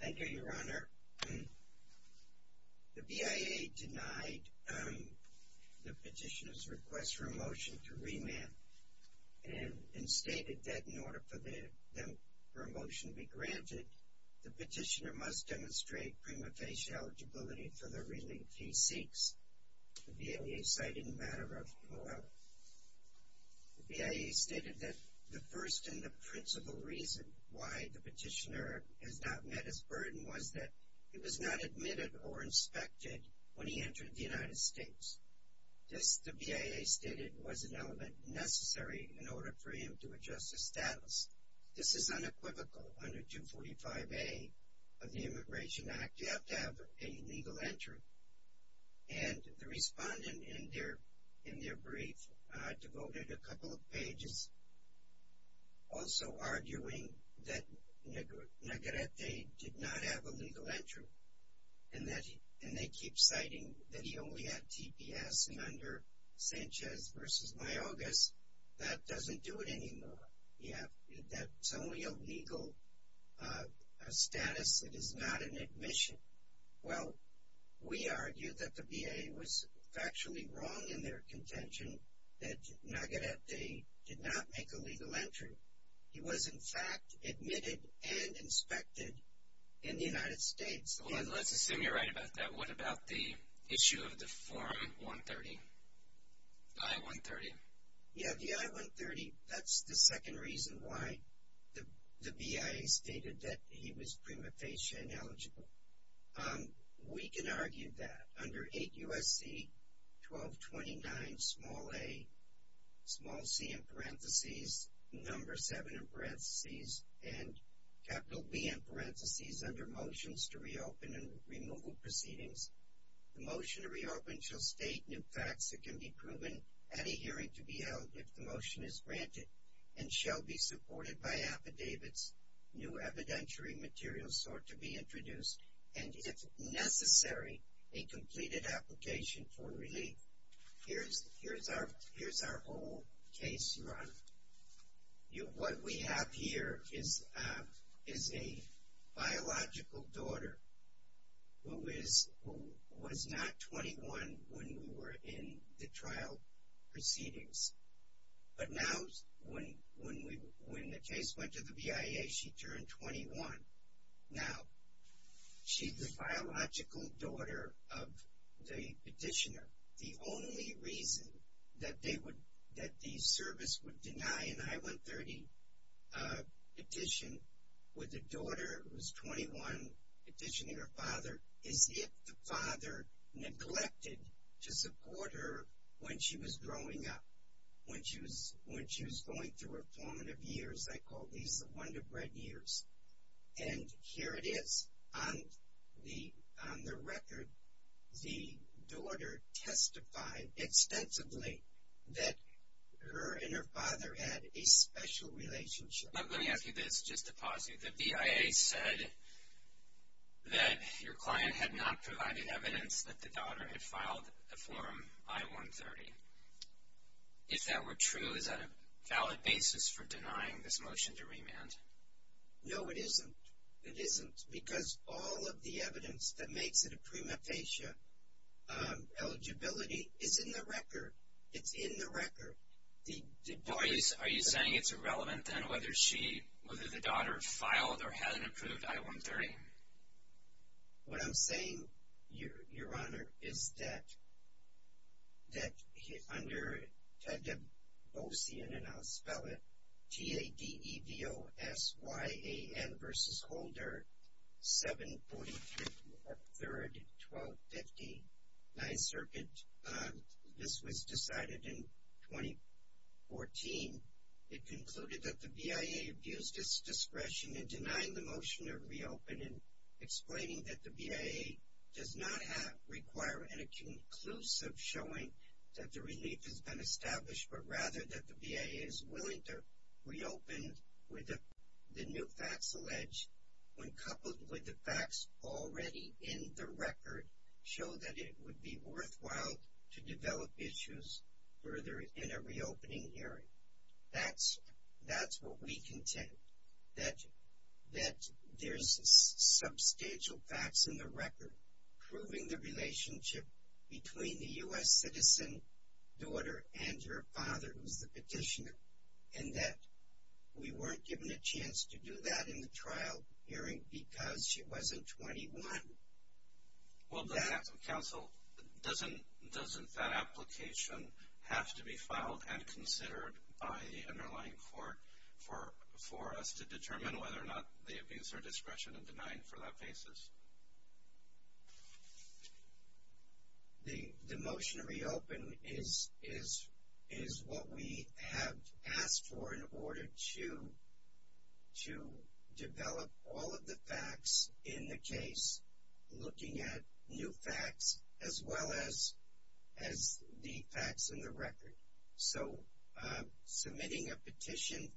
Thank you, Your Honor. The BIA denied the petitioner's request for a motion to remand and stated that in order for a motion to be granted, the petitioner must demonstrate prima facie eligibility for the relief he seeks. The BIA stated that the first and the principal reason why the petitioner has not met his burden was that he was not admitted or inspected when he entered the United States. This, the BIA stated, was an element necessary in order for him to adjust his status. This is unequivocal under 245A of the Immigration Act. You have to have a legal entry. And the respondent in their brief devoted a couple of pages also arguing that Navarrete did not have a legal entry. And they keep citing that he only had TPS. And under Sanchez v. Mayaguez, that doesn't do it anymore. Yeah, that's only a legal status that is not an admission. Well, we argue that the BIA was factually wrong in their contention that Navarrete did not make a legal entry. He was, in fact, admitted and inspected in the United States. Well, let's assume you're right about that. What about the issue of the Form 130, the I-130? Yeah, the I-130, that's the second reason why the BIA stated that he was prima facie ineligible. We can argue that under 8 U.S.C. 1229 small a, small c in parentheses, number 7 in parentheses, and capital B in parentheses under motions to reopen and removal proceedings, the motion to reopen shall state new facts that can be proven at a hearing to be held if the motion is granted and shall be supported by affidavits, new evidentiary materials sought to be introduced, and, if necessary, a completed application for relief. Here's our whole case, Your Honor. What we have here is a biological daughter who was not 21 when we were in the trial proceedings, but now when the case went to the BIA, she turned 21. Now, she's the biological daughter of the petitioner. The only reason that the service would deny an I-130 petition with a daughter who's 21 petitioning her father is if the father neglected to support her when she was growing up. When she was going through her formative years, I call these the wonder bread years. And here it is. On the record, the daughter testified extensively that her and her father had a special relationship. Let me ask you this just to pause you. The BIA said that your client had not provided evidence that the daughter had filed a form I-130. If that were true, is that a valid basis for denying this motion to remand? No, it isn't. It isn't because all of the evidence that makes it a prima facie eligibility is in the record. It's in the record. Are you saying it's irrelevant, then, whether the daughter filed or had an approved I-130? What I'm saying, Your Honor, is that under the Boesian, and I'll spell it, T-A-D-E-D-O-S-Y-A-N v. Holder, 745-3-1250, 9th Circuit. This was decided in 2014. It concluded that the BIA abused its discretion in denying the motion to reopen and explaining that the BIA does not require any conclusive showing that the relief has been established, but rather that the BIA is willing to reopen with the new facts alleged, when coupled with the facts already in the record, show that it would be worthwhile to develop issues further in a reopening hearing. That's what we contend, that there's substantial facts in the record proving the relationship between the U.S. citizen daughter and her father, who's the petitioner, and that we weren't given a chance to do that in the trial hearing because she wasn't 21. Well, Counsel, doesn't that application have to be filed and considered by the underlying court for us to determine whether or not they abuse our discretion in denying for that basis? The motion to reopen is what we have asked for in order to develop all of the facts in the case, looking at new facts as well as the facts in the record. So submitting a petition,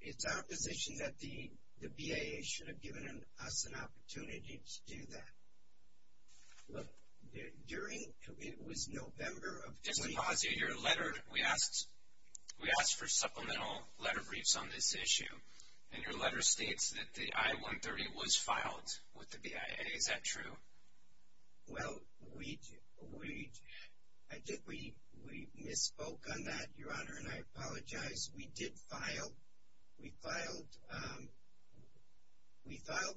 it's our position that the BIA should have given us an opportunity to do that. Look, it was November of 2018. Let me pause you here. We asked for supplemental letter briefs on this issue, and your letter states that the I-130 was filed with the BIA. Is that true? Well, we misspoke on that, Your Honor, and I apologize. We did file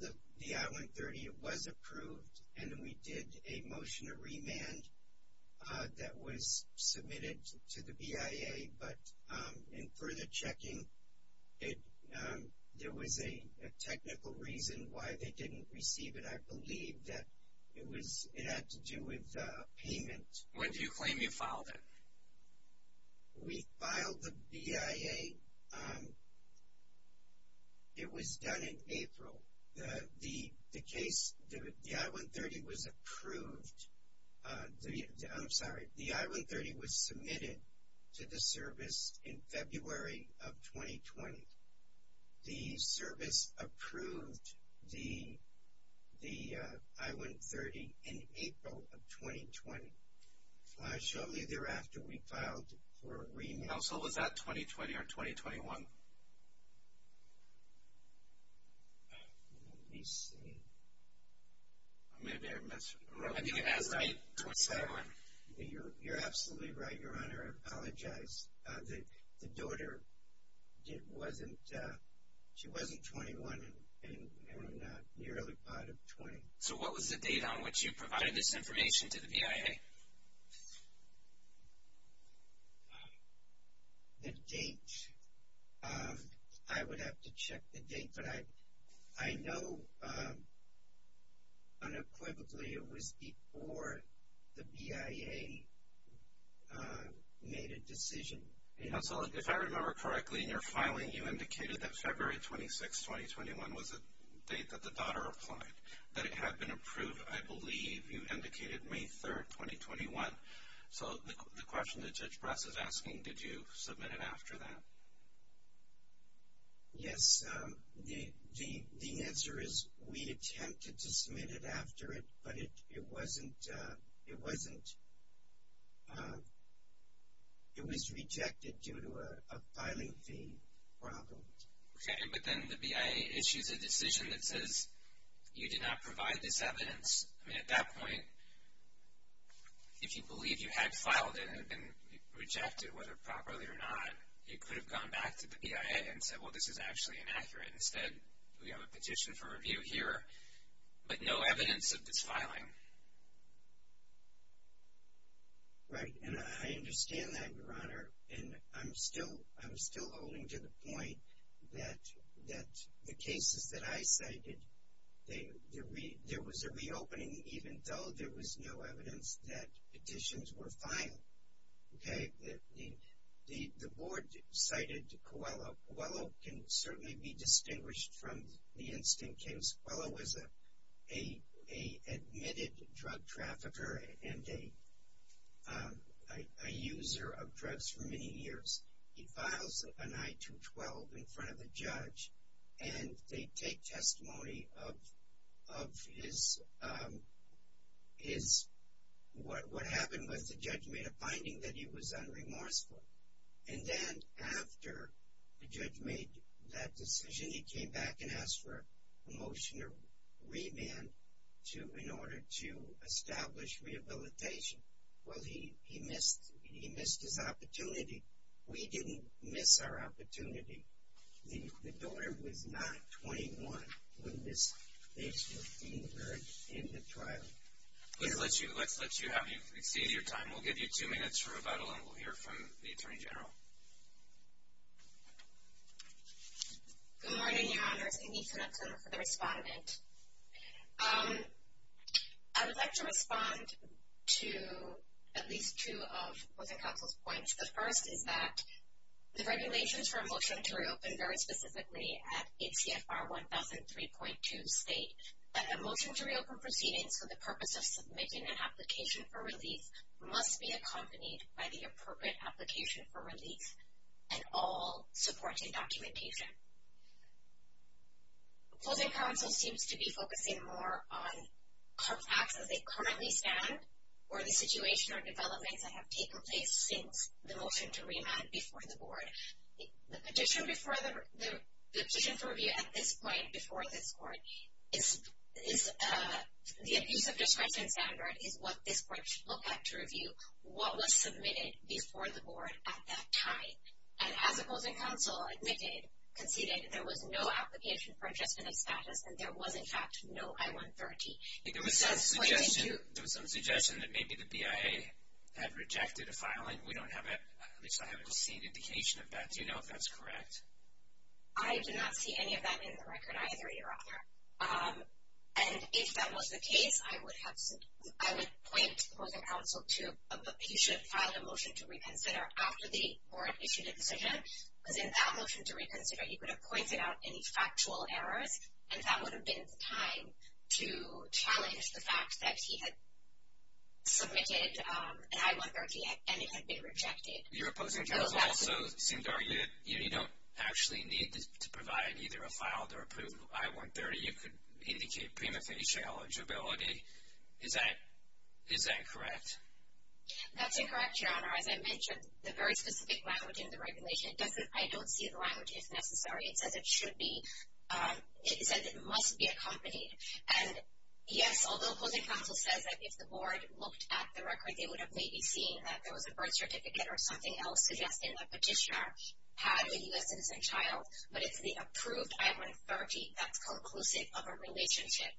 the I-130. It was approved, and we did a motion to remand that was submitted to the BIA, but in further checking, there was a technical reason why they didn't receive it. I believe that it had to do with payment. When do you claim you filed it? We filed the BIA. It was done in April. The case, the I-130 was approved. I'm sorry, the I-130 was submitted to the service in February of 2020. The service approved the I-130 in April of 2020. Shortly thereafter, we filed for remand. And also, was that 2020 or 2021? Let me see. I think it has to be 2021. You're absolutely right, Your Honor. I apologize. The daughter, she wasn't 21, and we're not nearly part of 20. So what was the date on which you provided this information to the BIA? The date. I know unequivocally it was before the BIA made a decision. If I remember correctly in your filing, you indicated that February 26, 2021 was the date that the daughter applied, that it had been approved, I believe you indicated May 3, 2021. So the question that Judge Brass is asking, did you submit it after that? Yes. The answer is we attempted to submit it after it, but it wasn't. It wasn't. It was rejected due to a filing fee problem. Okay, but then the BIA issues a decision that says you did not provide this evidence. I mean, at that point, if you believed you had filed it and it had been rejected, whether properly or not, you could have gone back to the BIA and said, well, this is actually inaccurate. Instead, we have a petition for review here, but no evidence of this filing. Right, and I understand that, Your Honor. And I'm still holding to the point that the cases that I cited, there was a reopening even though there was no evidence that petitions were filed. Okay, the board cited Coelho. Coelho can certainly be distinguished from the instant case. Coelho was an admitted drug trafficker and a user of drugs for many years. He files an I-212 in front of the judge, and they take testimony of what happened when the judge made a finding that he was unremorseful. And then after the judge made that decision, he came back and asked for a motion to remand in order to establish rehabilitation. Well, he missed his opportunity. We didn't miss our opportunity. The door was not 21 when this case was being heard in the trial. Let's let you have your time. We'll give you two minutes for rebuttal, and we'll hear from the Attorney General. Good morning, Your Honors. I'm Ethan Upton for the Respondent. I would like to respond to at least two of Closing Counsel's points. The first is that the regulations for a motion to reopen very specifically at ACFR 1003.2 state that a motion to reopen proceedings for the purpose of submitting an application for release must be accompanied by the appropriate application for release and all supporting documentation. Closing Counsel seems to be focusing more on facts as they currently stand or the situation or developments that have taken place since the motion to remand before the Board. The petition for review at this point before this Court is the abuse of discretion standard is what this Court should look at to review what was submitted before the Board at that time. And as Closing Counsel conceded, there was no application for adjustment of status, and there was, in fact, no I-130. There was some suggestion that maybe the BIA had rejected a filing. At least I haven't seen indication of that. Do you know if that's correct? I do not see any of that in the record either, Your Honor. And if that was the case, I would point Closing Counsel to a petition to file a motion to reconsider after the Board issued a decision. Because in that motion to reconsider, he could have pointed out any factual errors, and that would have been the time to challenge the fact that he had submitted an I-130 and it had been rejected. Your opposing counsel also seemed to argue that you don't actually need to provide either a filed or approved I-130. You could indicate prima facie eligibility. Is that correct? That's incorrect, Your Honor. As I mentioned, the very specific language in the regulation does say, I don't see the language if necessary. It says it should be. It says it must be accompanied. And, yes, although Closing Counsel says that if the Board looked at the record, they would have maybe seen that there was a birth certificate or something else suggesting the petitioner had a U.S. citizen child, but it's the approved I-130 that's conclusive of a relationship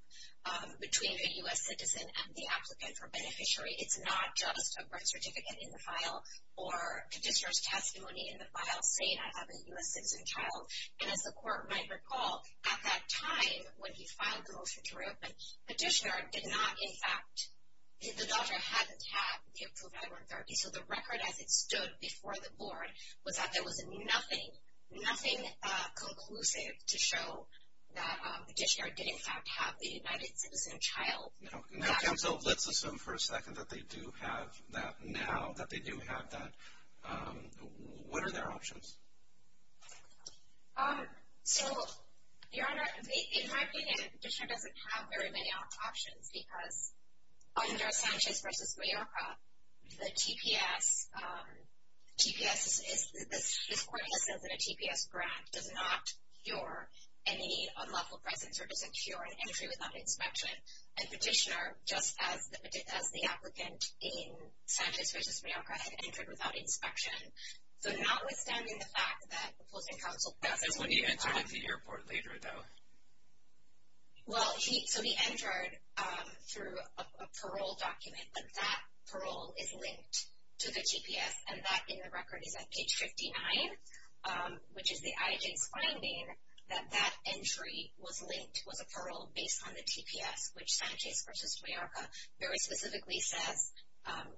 between a U.S. citizen and the applicant or beneficiary. It's not just a birth certificate in the file or petitioner's testimony in the file saying, I have a U.S. citizen child. And as the Court might recall, at that time when he filed the motion to reopen, the doctor hadn't had the approved I-130, so the record as it stood before the Board was that there was nothing conclusive to show that the petitioner did, in fact, have the U.S. citizen child. Now, Counsel, let's assume for a second that they do have that now, that they do have that. What are their options? So, Your Honor, in my opinion, the petitioner doesn't have very many options because under Sanchez v. Mayorkas, the TPS, this Court just says that a TPS grant does not cure any unlawful presence or doesn't cure an entry without inspection. A petitioner, just as the applicant in Sanchez v. Mayorkas, entered without inspection. So notwithstanding the fact that the opposing counsel does have a child. That's when he entered at the airport later, though. Well, so he entered through a parole document, but that parole is linked to the TPS, and that in the record is at page 59, which is the IJ's finding that that entry was linked, was a parole based on the TPS, which Sanchez v. Mayorkas very specifically says,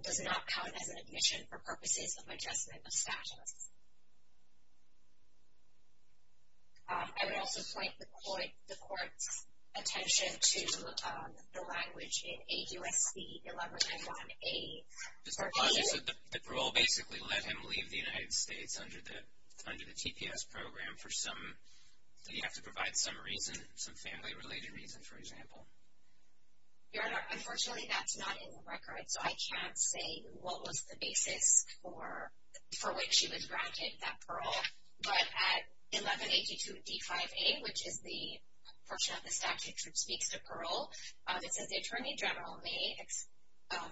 does not count as an admission for purposes of adjustment of status. I would also point the Court's attention to the language in AUSC 1191A. The parole basically let him leave the United States under the TPS program for some, did he have to provide some reason, some family related reason, for example? Your Honor, unfortunately that's not in the record, so I can't say what was the basis for which he was granted that parole. But at 1182 D5A, which is the portion of the statute which speaks to parole, it says the Attorney General may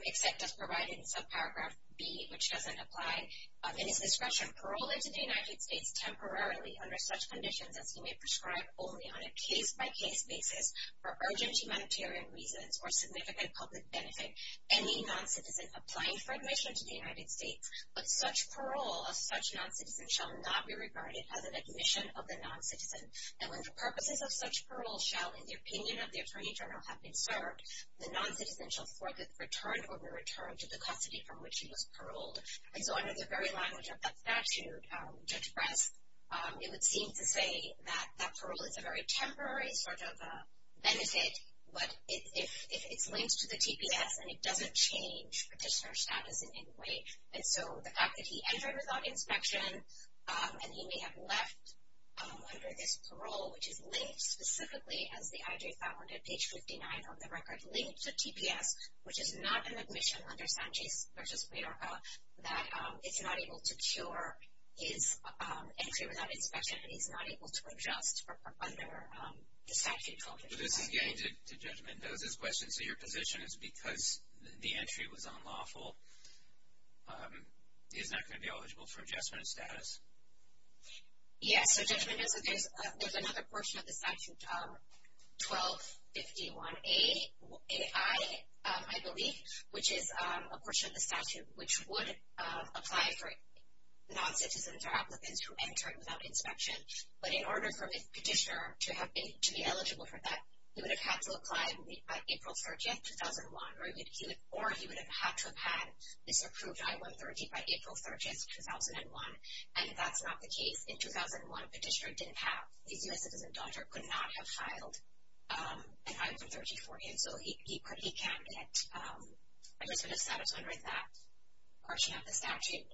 accept as provided in subparagraph B, which doesn't apply, in his discretion, parole into the United States temporarily under such conditions as he may prescribe only on a case-by-case basis for urgent humanitarian reasons or significant public benefit any non-citizen applying for admission to the United States. But such parole of such non-citizen shall not be regarded as an admission of the non-citizen. And when the purposes of such parole shall, in the opinion of the Attorney General, have been served, the non-citizen shall for the return or be returned to the custody from which he was paroled. And so under the very language of that statute, Judge Press, it would seem to say that that parole is a very temporary sort of benefit, but if it's linked to the TPS and it doesn't change petitioner status in any way. And so the fact that he entered without inspection and he may have left under this parole, which is linked specifically, as the IJ found on page 59 of the record, linked to TPS, which is not an admission under Sanchez v. Puerto Rico, that it's not able to cure his entry without inspection and he's not able to adjust under the statute called the TPS. So this is getting to Judge Mendoza's question. So your position is because the entry was unlawful, he's not going to be eligible for adjustment of status? Yes. So Judge Mendoza, there's another portion of the statute, 1251AI, I believe, which is a portion of the statute which would apply for non-citizens or applicants who entered without inspection. But in order for the petitioner to be eligible for that, he would have had to apply April 30, 2001, or he would have had to have had this approved, I-130, by April 30, 2001, and that's not the case. In 2001, a petitioner didn't have, his U.S. citizen daughter could not have filed an I-130 for him, so he can't get adjustment of status under that portion of the statute.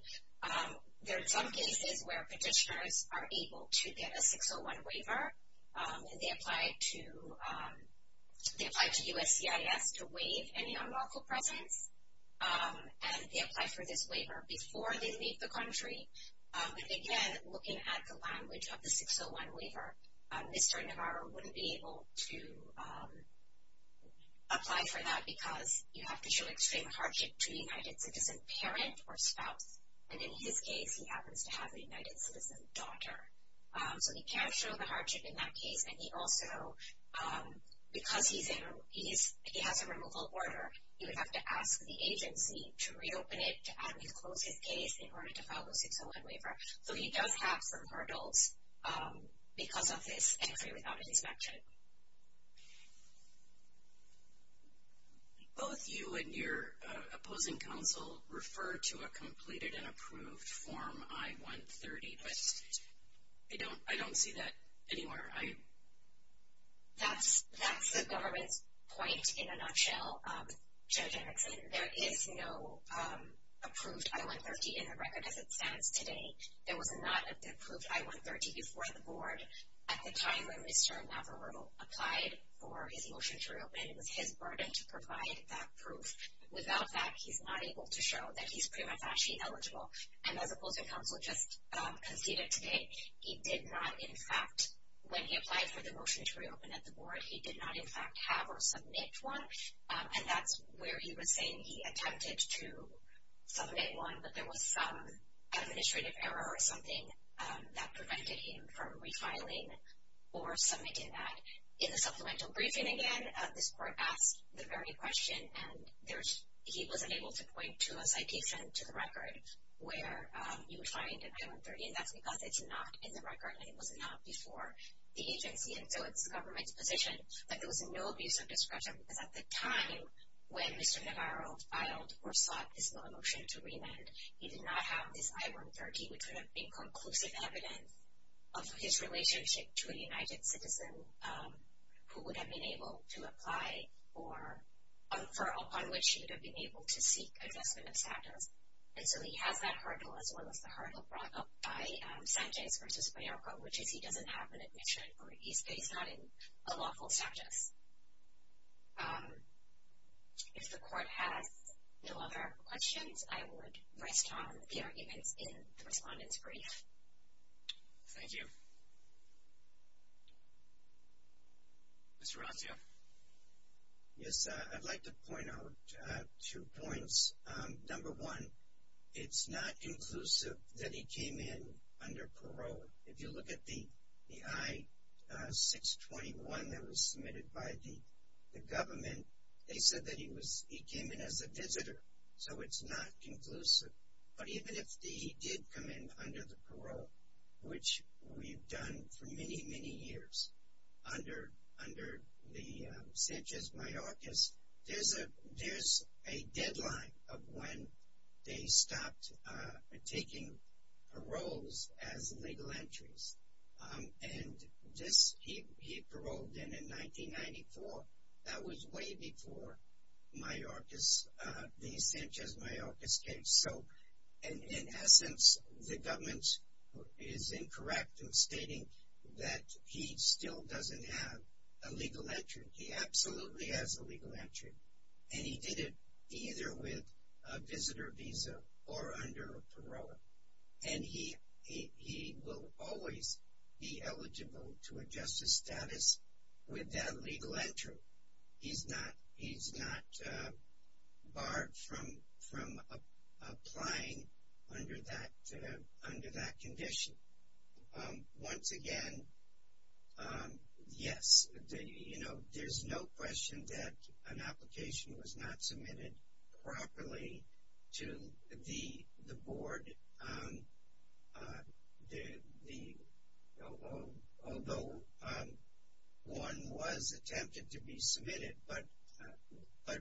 There are some cases where petitioners are able to get a 601 waiver, and they apply to USCIS to waive any unlawful presence, and they apply for this waiver before they leave the country. And again, looking at the language of the 601 waiver, Mr. Navarro wouldn't be able to apply for that because you have to show extreme hardship to a United Citizen parent or spouse, and in his case, he happens to have a United Citizen daughter. So he can't show the hardship in that case, and he also, because he has a removal order, he would have to ask the agency to reopen it, to actually close his case in order to file the 601 waiver. So he does have some hurdles because of his entry without inspection. Both you and your opposing counsel refer to a completed and approved Form I-130, but I don't see that anywhere. That's the government's point in a nutshell. Judge Erickson, there is no approved I-130 in the record as it stands today. There was not an approved I-130 before the board at the time when Mr. Navarro applied for his motion to reopen. It was his burden to provide that proof. Without that, he's not able to show that he's prima facie eligible, and as opposing counsel just conceded today, he did not, in fact, when he applied for the motion to reopen at the board, he did not, in fact, have or submit one, and that's where he was saying he attempted to submit one, but there was some administrative error or something that prevented him from refiling or submitting that. In the supplemental briefing, again, this court asked the very question, and he wasn't able to point to a citation to the record where you would find an I-130, and that's because it's not in the record, and it was not before the agency, and so it's the government's position that there was no abuse of discretion, because at the time when Mr. Navarro filed or sought his motion to remand, he did not have this I-130, which would have been conclusive evidence of his relationship to a United citizen who would have been able to apply or on which he would have been able to seek assessment of status. And so he has that hurdle as well as the hurdle brought up by Sanchez versus Mayorko, which is he doesn't have an admission or he's not in a lawful status. If the court has no other questions, I would rest on the arguments in the respondent's brief. Thank you. Mr. Rossio. Yes, I'd like to point out two points. Number one, it's not conclusive that he came in under parole. If you look at the I-621 that was submitted by the government, they said that he came in as a visitor, so it's not conclusive, but even if he did come in under the parole, which we've done for many, many years under the Sanchez-Mayorkos, there's a deadline of when they stopped taking paroles as legal entries. And this he paroled in in 1994. That was way before Mayorkos, the Sanchez-Mayorkos case. So in essence, the government is incorrect in stating that he still doesn't have a legal entry. He absolutely has a legal entry, and he did it either with a visitor visa or under a parole, and he will always be eligible to adjust his status with that legal entry. So he's not barred from applying under that condition. Once again, yes, you know, there's no question that an application was not submitted properly to the board, although one was attempted to be submitted. But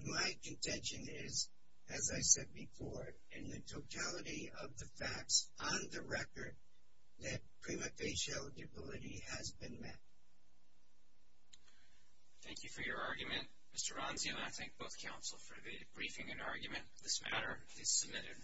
my contention is, as I said before, in the totality of the facts on the record, that prima facie eligibility has been met. Thank you for your argument. Mr. Ranzi and I thank both counsel for the briefing and argument. This matter is submitted.